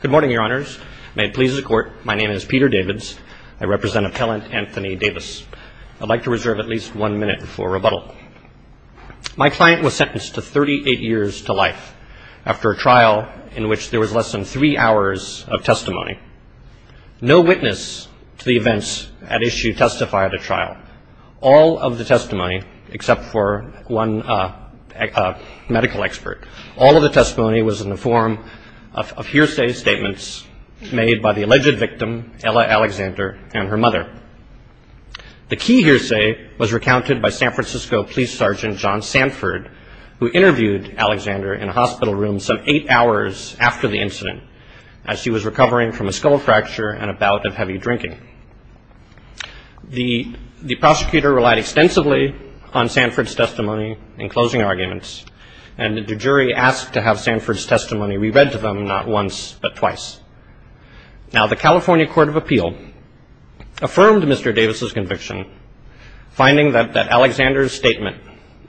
Good morning, Your Honors. May it please the Court, my name is Peter Davids. I represent Appellant Anthony Davis. I'd like to reserve at least one minute for rebuttal. My client was sentenced to 38 years to life after a trial in which there was less than three hours of testimony. No witness to the events at issue testified at a trial. All of the testimony, except for one medical expert, all of the testimony was in the form of hearsay statements made by the alleged victim, Ella Alexander, and her mother. The key hearsay was recounted by San Francisco Police Sergeant John Sanford, who interviewed Alexander in a hospital room some eight hours after the incident, as she was recovering from a skull fracture and a bout of heavy drinking. The prosecutor relied extensively on Sanford's testimony in closing arguments, and the jury asked to have Sanford's testimony re-read to them not once but twice. Now, the California Court of Appeal affirmed Mr. Davis's conviction, finding that Alexander's statement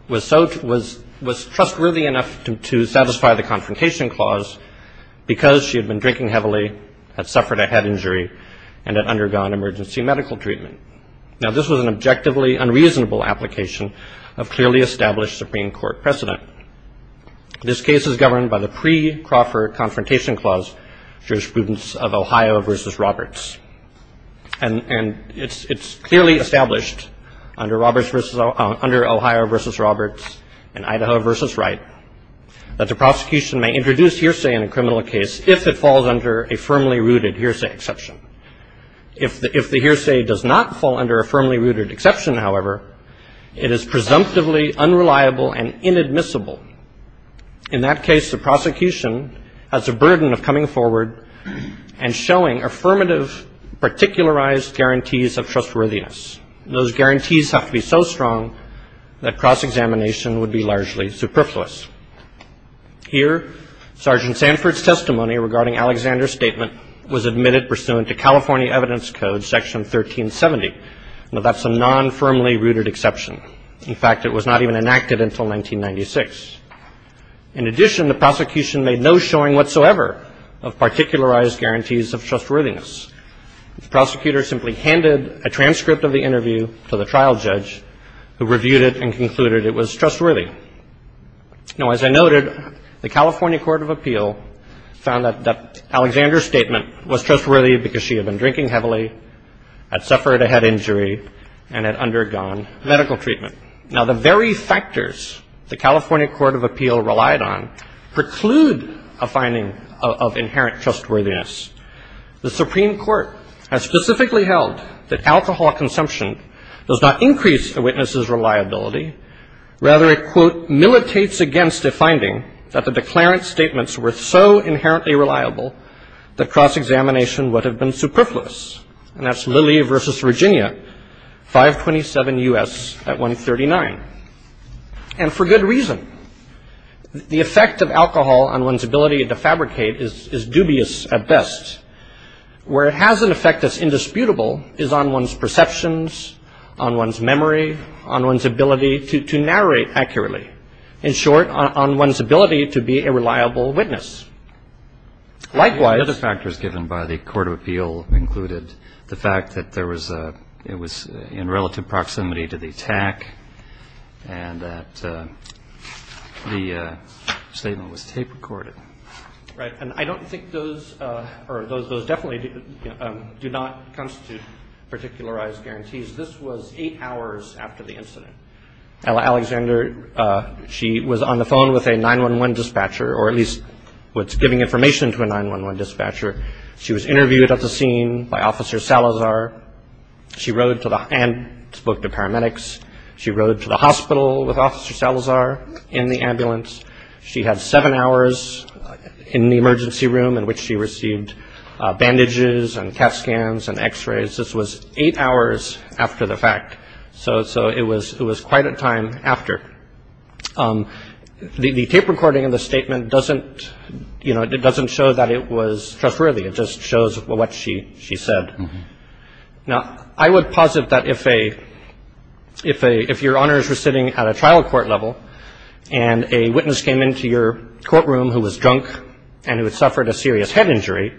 was trustworthy enough to satisfy the confrontation clause because she had been drinking heavily, had suffered a head injury, and had undergone emergency medical treatment. Now, this was an objectively unreasonable application of clearly established Supreme Court precedent. This case is governed by the pre-Crawford Confrontation Clause jurisprudence of Ohio v. Roberts, and it's clearly established under Ohio v. Roberts and Idaho v. Wright that the prosecution may introduce hearsay in a criminal case if it falls under a firmly rooted hearsay exception. If the hearsay does not fall under a firmly rooted exception, however, it is presumptively unreliable and inadmissible. In that case, the prosecution has a burden of coming forward and showing affirmative particularized guarantees of trustworthiness. Those guarantees have to be so strong that cross-examination would be largely superfluous. Here, Sergeant Sanford's testimony regarding Alexander's statement was admitted pursuant to California Evidence Code Section 1370, but that's a non-firmly rooted exception. In fact, it was not even enacted until 1996. In addition, the prosecution made no showing whatsoever of particularized guarantees of trustworthiness. The prosecutor simply handed a transcript of the interview to the trial judge who reviewed it and concluded it was trustworthy. Now, as I noted, the California Court of Appeal found that Alexander's statement was trustworthy because she had been drinking heavily, had suffered a head injury, and had undergone medical treatment. Now, the very factors the California Court of Appeal relied on preclude a finding of inherent trustworthiness. The Supreme Court has specifically held that alcohol consumption does not increase a witness's reliability. Rather, it, quote, "...militates against a finding that the declarant's statements were so inherently reliable that cross-examination would have been superfluous." And that's Lilly v. Virginia, 527 U.S. at 139. And for good reason. The effect of alcohol on one's ability to fabricate is dubious at best. Where it has an effect that's indisputable is on one's perceptions, on one's memory, on one's ability to narrate accurately. In short, on one's ability to be a reliable witness. Likewise... by the Court of Appeal included the fact that it was in relative proximity to the attack and that the statement was tape-recorded. Right. And I don't think those, or those definitely do not constitute particularized guarantees. This was eight hours after the incident. Alexander, she was on the phone with a 911 dispatcher, or at least was giving information to a 911 dispatcher. She was interviewed at the scene by Officer Salazar. She rode to the, and spoke to paramedics. She rode to the hospital with Officer Salazar in the ambulance. She had seven hours in the emergency room in which she received bandages and CAT scans and x-rays. This was eight hours after the fact. So it was quite a time after. The tape recording of the statement doesn't, you know, it doesn't show that it was trustworthy. It just shows what she said. Now, I would posit that if a, if your honors were sitting at a trial court level and a witness came into your courtroom who was drunk and who had suffered a serious head injury,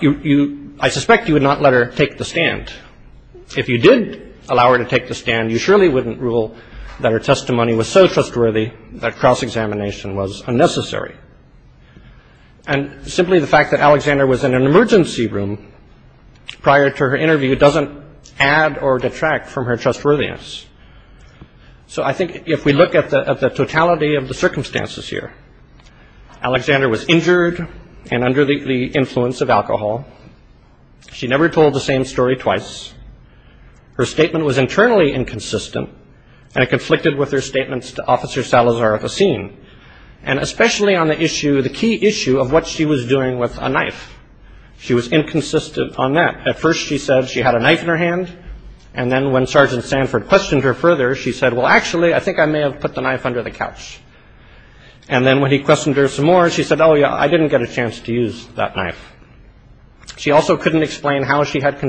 you, I suspect you would not let her take the stand. But if you did allow her to take the stand, you surely wouldn't rule that her testimony was so trustworthy that cross-examination was unnecessary. And simply the fact that Alexander was in an emergency room prior to her interview doesn't add or detract from her trustworthiness. So I think if we look at the totality of the circumstances here, Alexander was injured and under the influence of alcohol. She never told the same story twice. Her statement was internally inconsistent. And it conflicted with her statements to Officer Salazar at the scene. And especially on the issue, the key issue of what she was doing with a knife. She was inconsistent on that. At first she said she had a knife in her hand. And then when Sergeant Sanford questioned her further, she said, And then when he questioned her some more, she said, Oh, yeah, I didn't get a chance to use that knife. She also couldn't explain how she had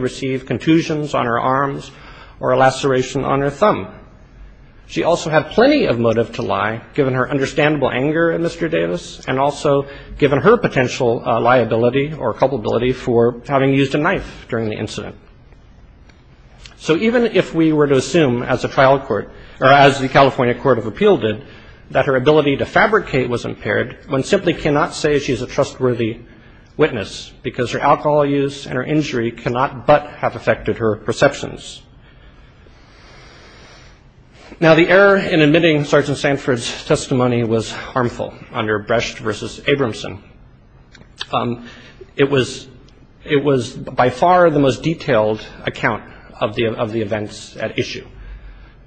received contusions on her arms or a laceration on her thumb. She also had plenty of motive to lie, given her understandable anger at Mr. Davis, and also given her potential liability or culpability for having used a knife during the incident. So even if we were to assume as a trial court, or as the California Court of Appeal did, that her ability to fabricate was impaired, one simply cannot say she is a trustworthy witness, because her alcohol use and her injury cannot but have affected her perceptions. Now, the error in admitting Sergeant Sanford's testimony was harmful under Brecht versus Abramson. It was by far the most detailed account of the events at issue.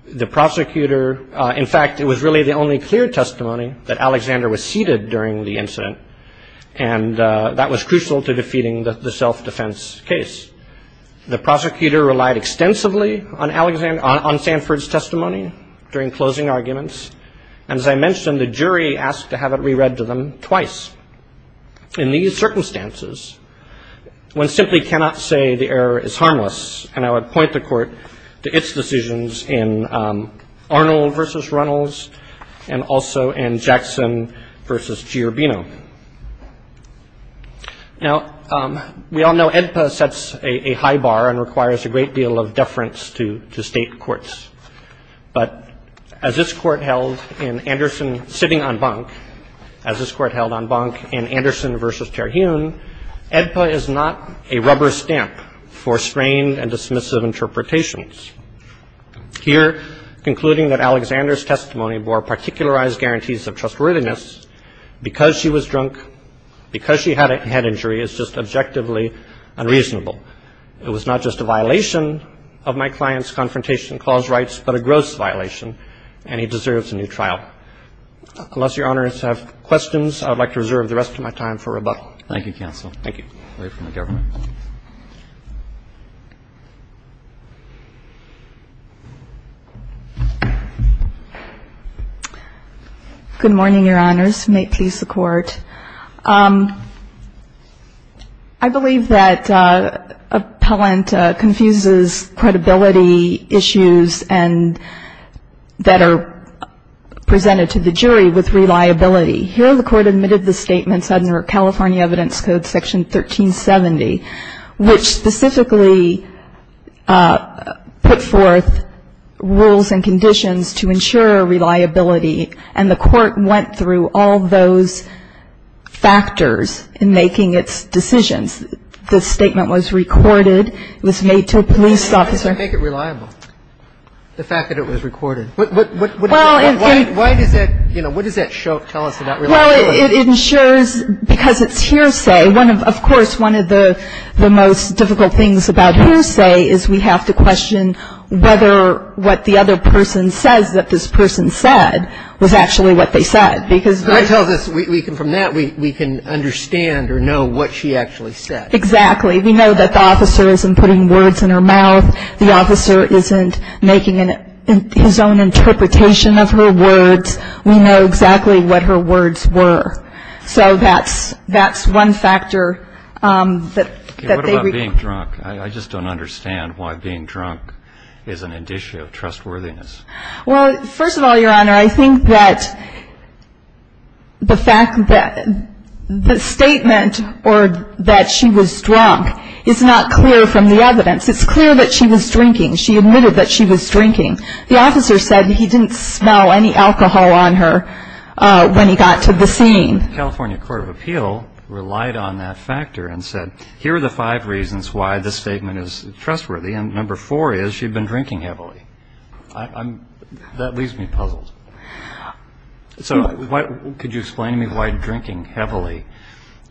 The prosecutor, in fact, it was really the only clear testimony that Alexander was seated during the incident, and that was crucial to defeating the self-defense case. The prosecutor relied extensively on Sanford's testimony during closing arguments, and as I mentioned, the jury asked to have it reread to them twice. In these circumstances, one simply cannot say the error is harmless, and I would point the Court to its decisions in Arnold versus Runnels, and also in Jackson versus Giorbino. Now, we all know AEDPA sets a high bar and requires a great deal of deference to state courts, but as this Court held in Anderson sitting on bunk, as this Court held on bunk in Anderson versus Terhune, AEDPA is not a rubber stamp for strained and dismissive interpretations. Here, concluding that Alexander's testimony bore particularized guarantees of trustworthiness, because she was drunk, because she had a head injury, is just objectively unreasonable. It was not just a violation of my client's confrontation clause rights, but a gross violation, and he deserves a new trial. Unless Your Honors have questions, I would like to reserve the rest of my time for rebuttal. Thank you, counsel. Thank you. Good morning, Your Honors. May it please the Court. I believe that appellant confuses credibility issues and that are presented to the jury with reliability. Here, the Court admitted the statements under California Evidence Code Section 1370, which specifically put forth rules and conditions to ensure reliability, and the Court went through all those factors in making its decisions. The statement was recorded. It was made to a police officer. Why does it make it reliable, the fact that it was recorded? What does that show, tell us about reliability? Well, it ensures, because it's hearsay. Of course, one of the most difficult things about hearsay is we have to question whether what the other person says that this person said was actually what they said. I tell this, from that we can understand or know what she actually said. Exactly. We know that the officer isn't putting words in her mouth. The officer isn't making his own interpretation of her words. We know exactly what her words were. So that's one factor that they record. What about being drunk? I just don't understand why being drunk is an indicia of trustworthiness. Well, first of all, Your Honor, I think that the fact that the statement or that she was drunk is not clear from the evidence. It's clear that she was drinking. She admitted that she was drinking. The officer said he didn't smell any alcohol on her when he got to the scene. The California Court of Appeal relied on that factor and said, here are the five reasons why this statement is trustworthy, and number four is she had been drinking heavily. That leaves me puzzled. So could you explain to me why drinking heavily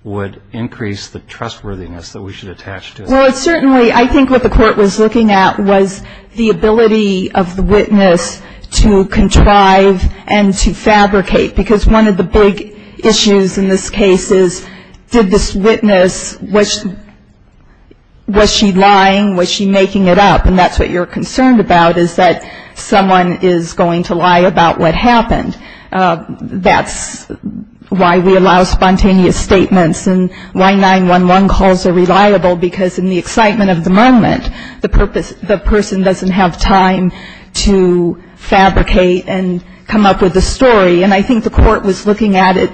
would increase the trustworthiness that we should attach to it? Well, certainly I think what the court was looking at was the ability of the witness to contrive and to fabricate because one of the big issues in this case is did this witness, was she lying? Was she making it up? And that's what you're concerned about is that someone is going to lie about what happened. That's why we allow spontaneous statements, and why 911 calls are reliable because in the excitement of the moment, the person doesn't have time to fabricate and come up with a story. And I think the court was looking at it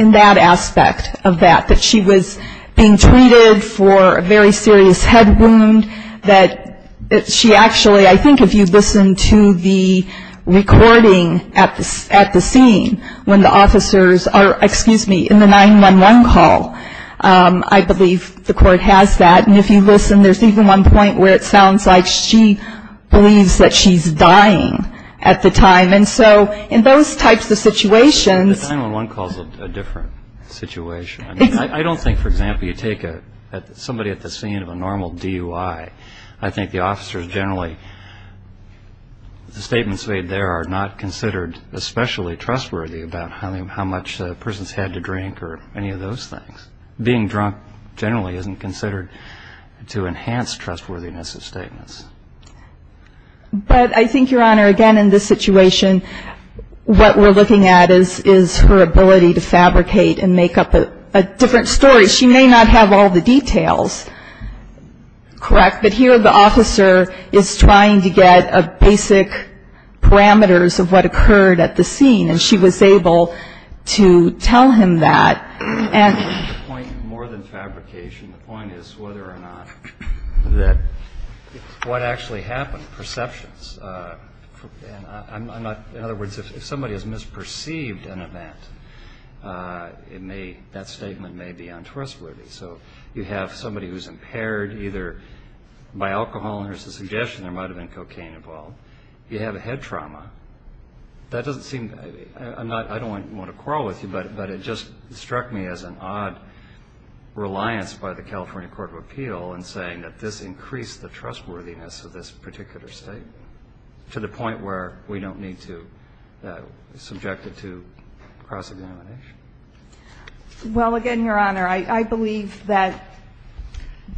in that aspect of that, that she was being treated for a very serious head wound, that she actually, I think if you listen to the recording at the scene when the officers are, excuse me, in the 911 call, I believe the court has that. And if you listen, there's even one point where it sounds like she believes that she's dying at the time. And so in those types of situations. The 911 call is a different situation. I don't think, for example, you take somebody at the scene of a normal DUI, I think the officers generally, the statements made there are not considered especially trustworthy about how much the person's had to drink or any of those things. Being drunk generally isn't considered to enhance trustworthiness of statements. But I think, Your Honor, again in this situation, what we're looking at is her ability to fabricate and make up a different story. She may not have all the details correct, but here the officer is trying to get basic parameters of what occurred at the scene, and she was able to tell him that. The point is more than fabrication. The point is whether or not what actually happened, perceptions. In other words, if somebody has misperceived an event, that statement may be untrustworthy. So you have somebody who's impaired either by alcohol, and there's a suggestion there might have been cocaine involved. You have a head trauma. That doesn't seem, I don't want to quarrel with you, but it just struck me as an odd reliance by the California Court of Appeal in saying that this increased the trustworthiness of this particular statement to the point where we don't need to subject it to cross-examination. Well, again, Your Honor, I believe that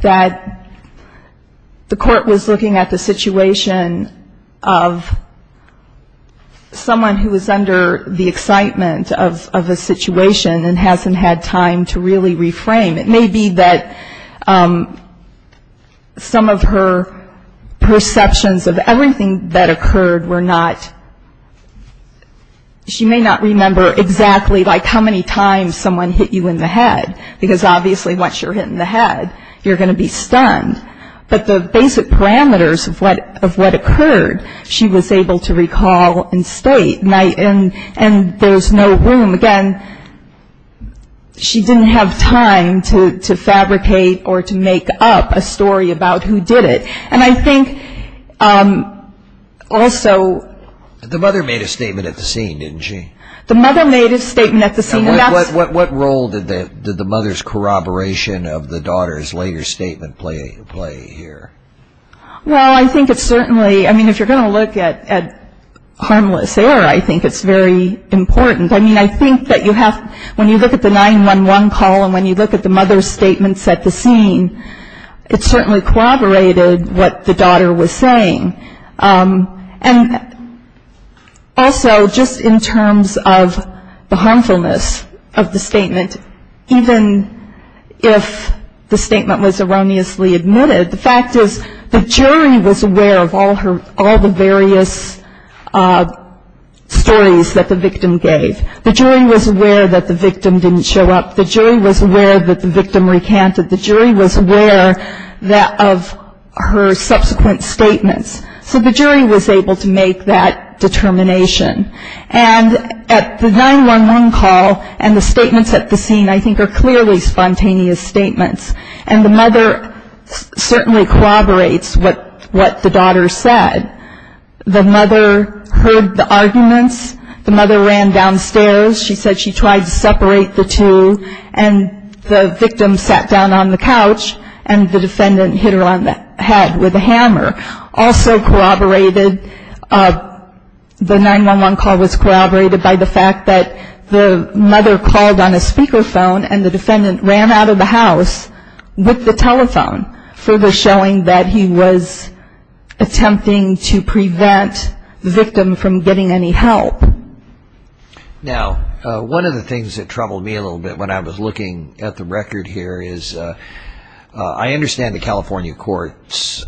the court was looking at the situation of someone who was under the excitement of a situation and hasn't had time to really reframe. It may be that some of her perceptions of everything that occurred were not, she may not remember exactly like how many times someone hit you in the head, because obviously once you're hit in the head, you're going to be stunned. But the basic parameters of what occurred, she was able to recall and state. And there's no room, again, she didn't have time to fabricate or to make up a story about who did it. And I think also... The mother made a statement at the scene, didn't she? The mother made a statement at the scene. What role did the mother's corroboration of the daughter's later statement play here? Well, I think it certainly, I mean, if you're going to look at harmless error, I think it's very important. I mean, I think that you have, when you look at the 911 call and when you look at the mother's statements at the scene, it certainly corroborated what the daughter was saying. And also, just in terms of the harmfulness of the statement, even if the statement was erroneously admitted, the fact is the jury was aware of all the various stories that the victim gave. The jury was aware that the victim didn't show up. The jury was aware that the victim recanted. The jury was aware of her subsequent statements. So the jury was able to make that determination. And at the 911 call and the statements at the scene I think are clearly spontaneous statements. And the mother certainly corroborates what the daughter said. The mother heard the arguments. The mother ran downstairs. She said she tried to separate the two and the victim sat down on the couch and the defendant hit her on the head with a hammer. Also corroborated, the 911 call was corroborated by the fact that the mother called on a speakerphone and the defendant ran out of the house with the telephone, further showing that he was attempting to prevent the victim from getting any help. Now, one of the things that troubled me a little bit when I was looking at the record here is I understand the California court's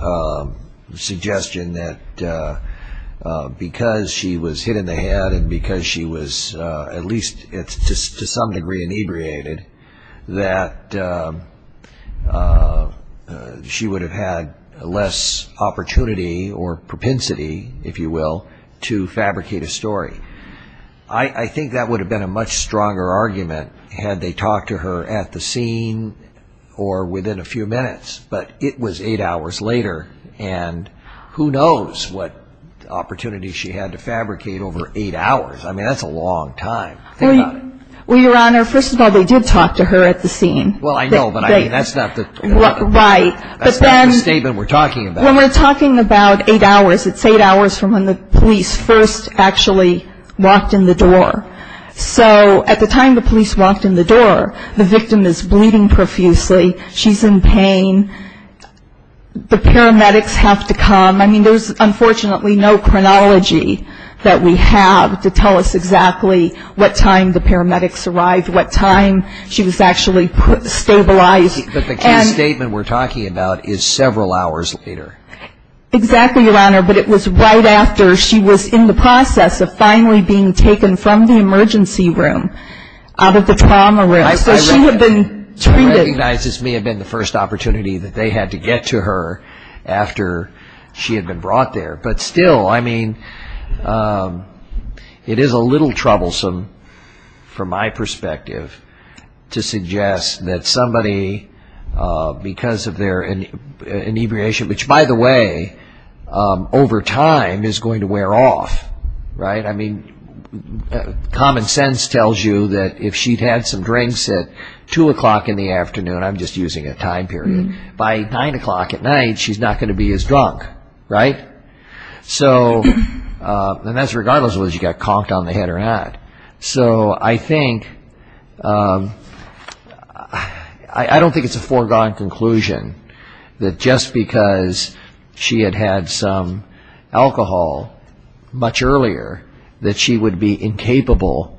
suggestion that because she was hit in the head and because she was at least to some degree inebriated, that she would have had less opportunity or propensity, if you will, to fabricate a story. I think that would have been a much stronger argument had they talked to her at the scene or within a few minutes, but it was eight hours later and who knows what opportunity she had to fabricate over eight hours. I mean, that's a long time. Well, Your Honor, first of all, they did talk to her at the scene. Well, I know, but that's not the statement we're talking about. When we're talking about eight hours, it's eight hours from when the police first actually walked in the door. So at the time the police walked in the door, the victim is bleeding profusely. She's in pain. The paramedics have to come. I mean, there's unfortunately no chronology that we have to tell us exactly what time the paramedics arrived, what time she was actually stabilized. But the case statement we're talking about is several hours later. Exactly, Your Honor, but it was right after she was in the process of finally being taken from the emergency room out of the trauma room. So she had been treated. I recognize this may have been the first opportunity that they had to get to her after she had been brought there, but still, I mean, it is a little troublesome from my perspective to suggest that somebody, because of their inebriation, which, by the way, over time is going to wear off, right? I mean, common sense tells you that if she'd had some drinks at 2 o'clock in the afternoon, I'm just using a time period, by 9 o'clock at night, she's not going to be as drunk, right? So, and that's regardless of whether she got conked on the head or not. So I think, I don't think it's a foregone conclusion that just because she had had some alcohol much earlier that she would be incapable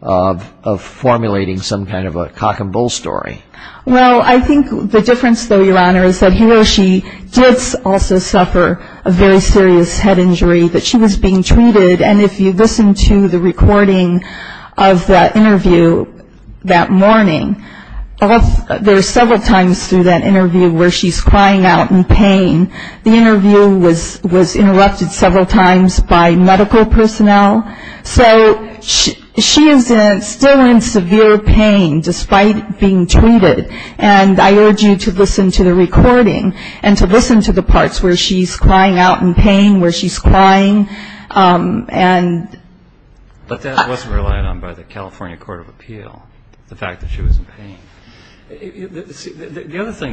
of formulating some kind of a cock and bull story. Well, I think the difference, though, Your Honor, is that he or she did also suffer a very serious head injury that she was being treated, and if you listen to the recording of that interview that morning, there are several times through that interview where she's crying out in pain. The interview was interrupted several times by medical personnel. So she is still in severe pain despite being treated, and I urge you to listen to the recording and to listen to the parts where she's crying out in pain, where she's crying, and... The other thing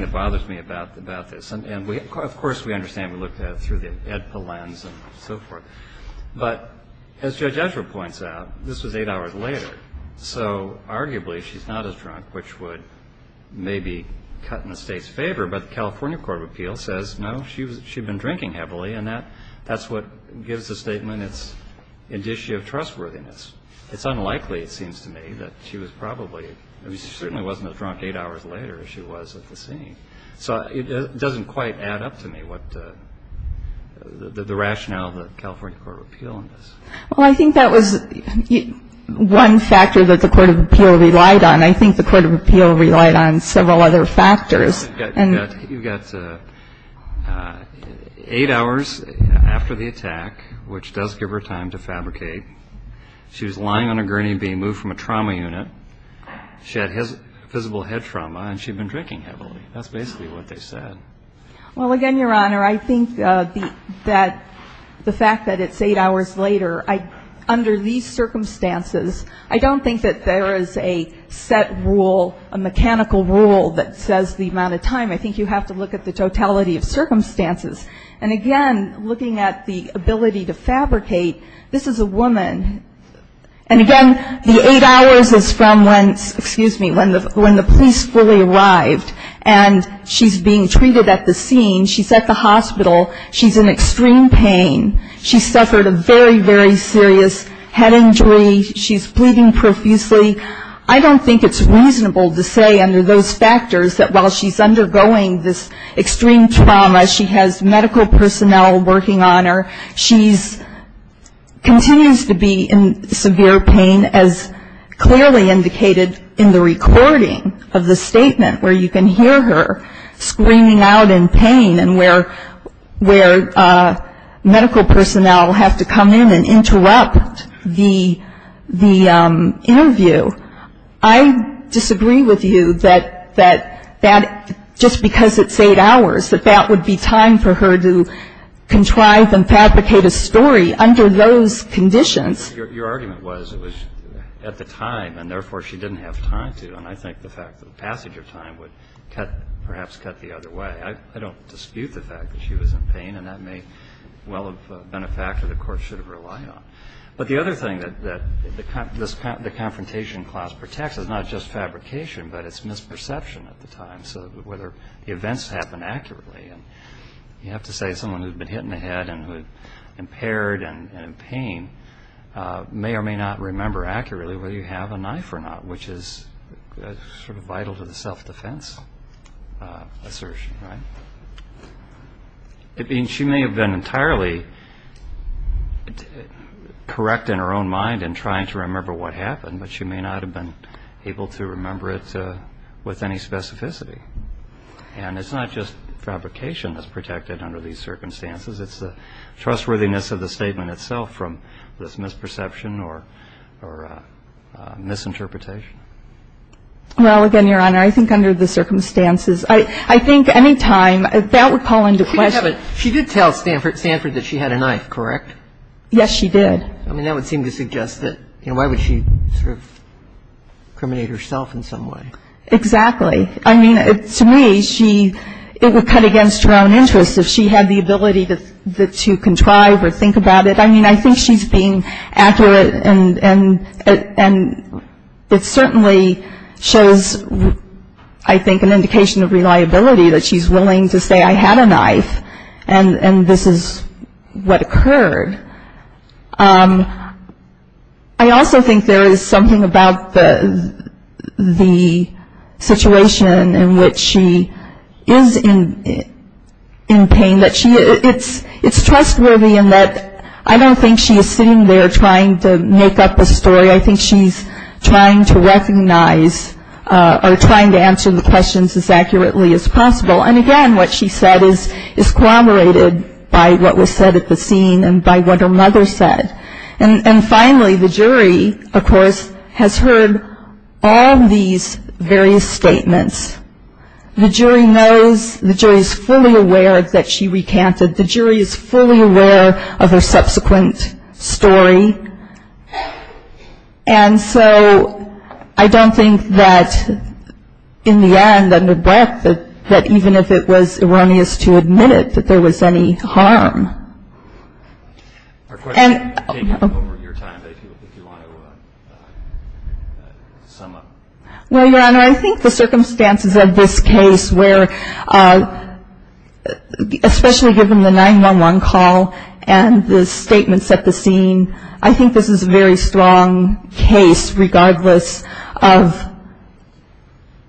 that bothers me about this, and of course we understand we looked at it through the EDPA lens and so forth, but as Judge Edgeworth points out, this was eight hours later, so arguably she's not as drunk, which would maybe cut in the State's favor, but the California Court of Appeals says, no, she'd been drinking heavily, and that's what gives the statement its indicia of trustworthiness. It's unlikely, it seems to me, that she was probably... I mean, she certainly wasn't as drunk eight hours later as she was at the scene. So it doesn't quite add up to me what the rationale of the California Court of Appeals is. Well, I think that was one factor that the Court of Appeals relied on. I think the Court of Appeals relied on several other factors. You've got eight hours after the attack, which does give her time to fabricate. She was lying on a gurney being moved from a trauma unit. She had visible head trauma, and she'd been drinking heavily. That's basically what they said. Well, again, Your Honor, I think that the fact that it's eight hours later, under these circumstances, I don't think that there is a set rule, a mechanical rule that says the amount of time. I think you have to look at the totality of circumstances. And again, looking at the ability to fabricate, this is a woman. And again, the eight hours is from when, excuse me, when the police fully arrived, and she's being treated at the scene. She's at the hospital. She's in extreme pain. She suffered a very, very serious head injury. She's bleeding profusely. I don't think it's reasonable to say under those factors that while she's undergoing this extreme trauma, as she has medical personnel working on her, she continues to be in severe pain, as clearly indicated in the recording of the statement where you can hear her screaming out in pain and where medical personnel have to come in and interrupt the interview. I disagree with you that that just because it's eight hours, that that would be time for her to contrive and fabricate a story under those conditions. Your argument was it was at the time, and therefore she didn't have time to. And I think the fact that the passage of time would cut, perhaps cut the other way. I don't dispute the fact that she was in pain, and that may well have been a factor the Court should have relied on. But the other thing that the confrontation clause protects is not just fabrication, but it's misperception at the time, so whether events happen accurately. You have to say someone who's been hit in the head and who's impaired and in pain may or may not remember accurately whether you have a knife or not, which is sort of vital to the self-defense assertion, right? I mean, she may have been entirely correct in her own mind in trying to remember what happened, but she may not have been able to remember it with any specificity. And it's not just fabrication that's protected under these circumstances. It's the trustworthiness of the statement itself from this misperception or misinterpretation. Well, again, Your Honor, I think under the circumstances, I think any time that would call into question. She did tell Stanford that she had a knife, correct? Yes, she did. I mean, that would seem to suggest that, you know, why would she sort of incriminate herself in some way? Exactly. I mean, to me, she – it would cut against her own interests if she had the ability to contrive or think about it. I mean, I think she's being accurate, and it certainly shows, I think, an indication of reliability that she's willing to say, I had a knife, and this is what occurred. I also think there is something about the situation in which she is in pain that she – it's trustworthy in that I don't think she is sitting there trying to make up a story. I think she's trying to recognize or trying to answer the questions as accurately as possible. And again, what she said is corroborated by what was said at the scene and by what her mother said. And finally, the jury, of course, has heard all these various statements. The jury knows – the jury is fully aware that she recanted. The jury is fully aware of her subsequent story. And so I don't think that, in the end, under breath, that even if it was erroneous to admit it, that there was any harm. Our question came up over your time, if you want to sum up. Well, Your Honor, I think the circumstances of this case where – especially given the 911 call and the statements at the scene, I think this is a very strong case regardless of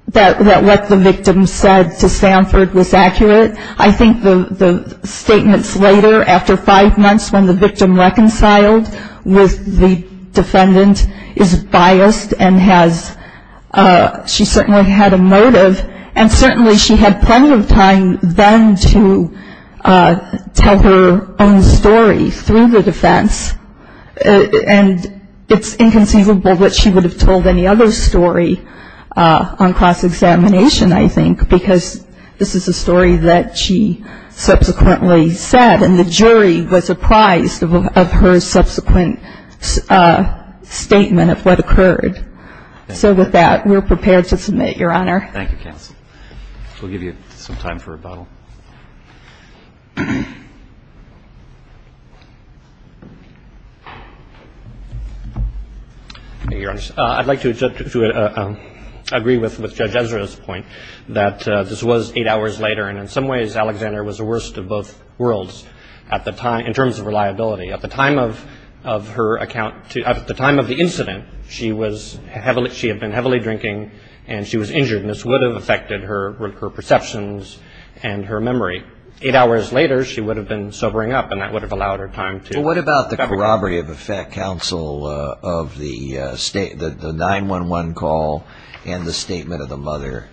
that what the victim said to Stanford was accurate. I think the statements later, after five months, when the victim reconciled with the defendant is biased and has – she certainly had a motive. And certainly she had plenty of time then to tell her own story through the defense. And it's inconceivable that she would have told any other story on cross-examination, I think, because this is a story that she subsequently said. And the jury was apprised of her subsequent statement of what occurred. So with that, we're prepared to submit, Your Honor. Thank you, counsel. We'll give you some time for rebuttal. I'd like to agree with Judge Ezra's point that this was eight hours later, and in some ways Alexander was the worst of both worlds in terms of reliability. At the time of the incident, she had been heavily drinking and she was injured, and this would have affected her perceptions and her memory. Eight hours later, she would have been sobering up, and that would have allowed her time to – Well, what about the corroborative effect, counsel, of the 911 call and the statement of the mother?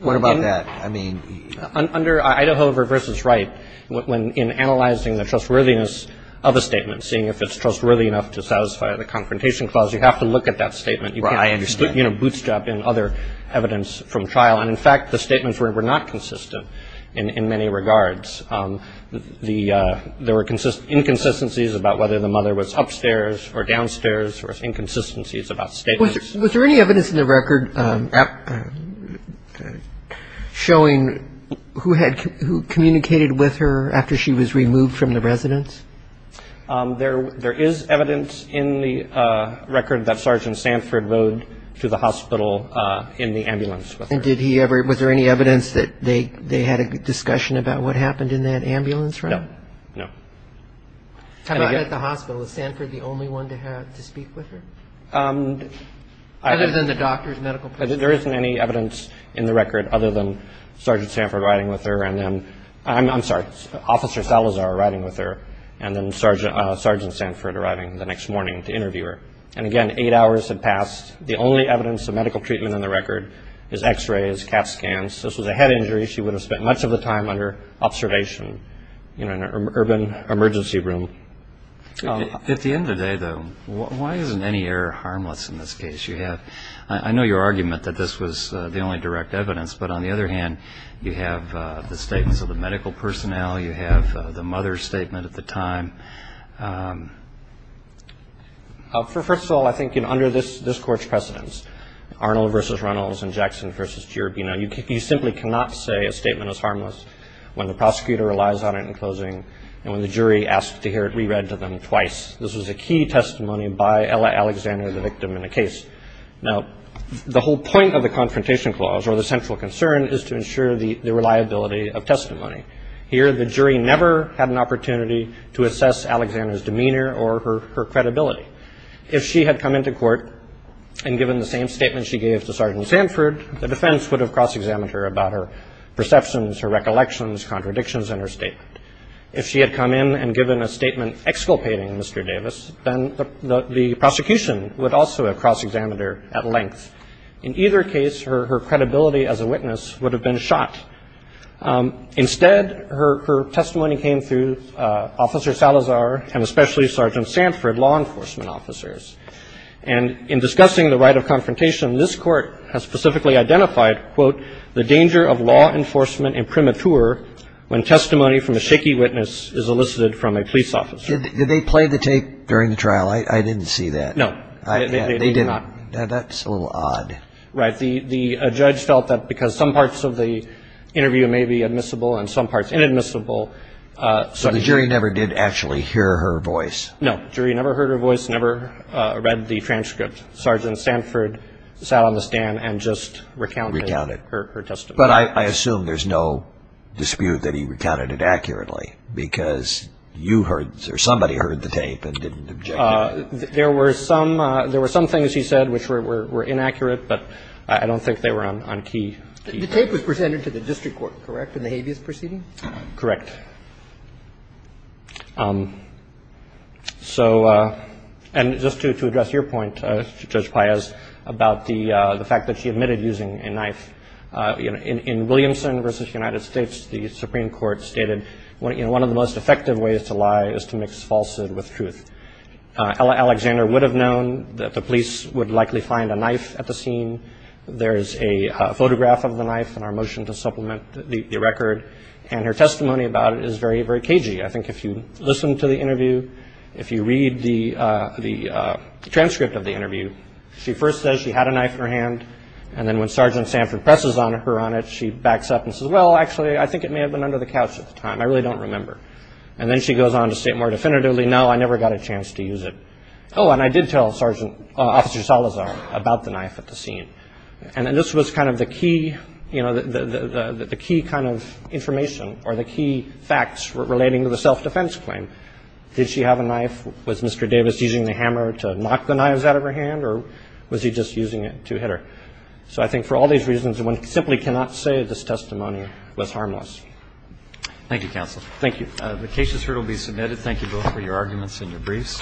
What about that? I mean – Under Idaho v. Wright, in analyzing the trustworthiness of a statement, seeing if it's trustworthy enough to satisfy the confrontation clause, you have to look at that statement. You can't bootstrap in other evidence from trial. And in fact, the statements were not consistent in many regards. There were inconsistencies about whether the mother was upstairs or downstairs or inconsistencies about statements. Was there any evidence in the record showing who had – who communicated with her after she was removed from the residence? There is evidence in the record that Sergeant Sanford rode to the hospital in the ambulance with her. And did he ever – was there any evidence that they had a discussion about what happened in that ambulance? No. No. How about at the hospital? Was Sanford the only one to have – to speak with her? Other than the doctors, medical personnel? There isn't any evidence in the record other than Sergeant Sanford riding with her, and then – I'm sorry, Officer Salazar riding with her, and then Sergeant Sanford arriving the next morning to interview her. And again, eight hours had passed. The only evidence of medical treatment in the record is X-rays, CAT scans. This was a head injury. She would have spent much of the time under observation in an urban emergency room. At the end of the day, though, why isn't any error harmless in this case? You have – I know your argument that this was the only direct evidence, but on the other hand, you have the statements of the medical personnel. You have the mother's statement at the time. First of all, I think under this Court's precedence, Arnold v. Reynolds and Jackson v. Jierby, you know, you simply cannot say a statement is harmless when the prosecutor relies on it in closing and when the jury asks to hear it reread to them twice. This was a key testimony by Ella Alexander, the victim in the case. Now, the whole point of the Confrontation Clause, or the central concern, is to ensure the reliability of testimony. Here, the jury never had an opportunity to assess Alexander's demeanor or her credibility. If she had come into court and given the same statement she gave to Sergeant Sanford, the defense would have cross-examined her about her perceptions, her recollections, contradictions in her statement. If she had come in and given a statement exculpating Mr. Davis, then the prosecution would also have cross-examined her at length. In either case, her credibility as a witness would have been shot. Instead, her testimony came through Officer Salazar and especially Sergeant Sanford, law enforcement officers. And in discussing the right of confrontation, this Court has specifically identified, quote, the danger of law enforcement in premature when testimony from a shaky witness is elicited from a police officer. Did they play the tape during the trial? I didn't see that. No. They did not. That's a little odd. Right. The judge felt that because some parts of the interview may be admissible and some parts inadmissible, so the jury never did actually hear her voice. No. The jury never heard her voice, never read the transcript. Sergeant Sanford sat on the stand and just recounted her testimony. But I assume there's no dispute that he recounted it accurately because you heard or somebody heard the tape and didn't object to it. There were some things he said which were inaccurate, but I don't think they were on key. The tape was presented to the district court, correct, in the habeas proceeding? Correct. And just to address your point, Judge Paez, about the fact that she admitted using a knife, in Williamson v. United States, the Supreme Court stated, one of the most effective ways to lie is to mix falsehood with truth. Alexander would have known that the police would likely find a knife at the scene. There is a photograph of the knife in our motion to supplement the record. And her testimony about it is very, very cagey. I think if you listen to the interview, if you read the transcript of the interview, she first says she had a knife in her hand, and then when Sergeant Sanford presses her on it, she backs up and says, well, actually, I think it may have been under the couch at the time. I really don't remember. And then she goes on to state more definitively, no, I never got a chance to use it. Oh, and I did tell Officer Salazar about the knife at the scene. And this was kind of the key, you know, the key kind of information or the key facts relating to the self-defense claim. Did she have a knife? Was Mr. Davis using the hammer to knock the knives out of her hand, or was he just using it to hit her? So I think for all these reasons, one simply cannot say this testimony was harmless. Thank you, counsel. Thank you. The case is here to be submitted. Thank you both for your arguments and your briefs.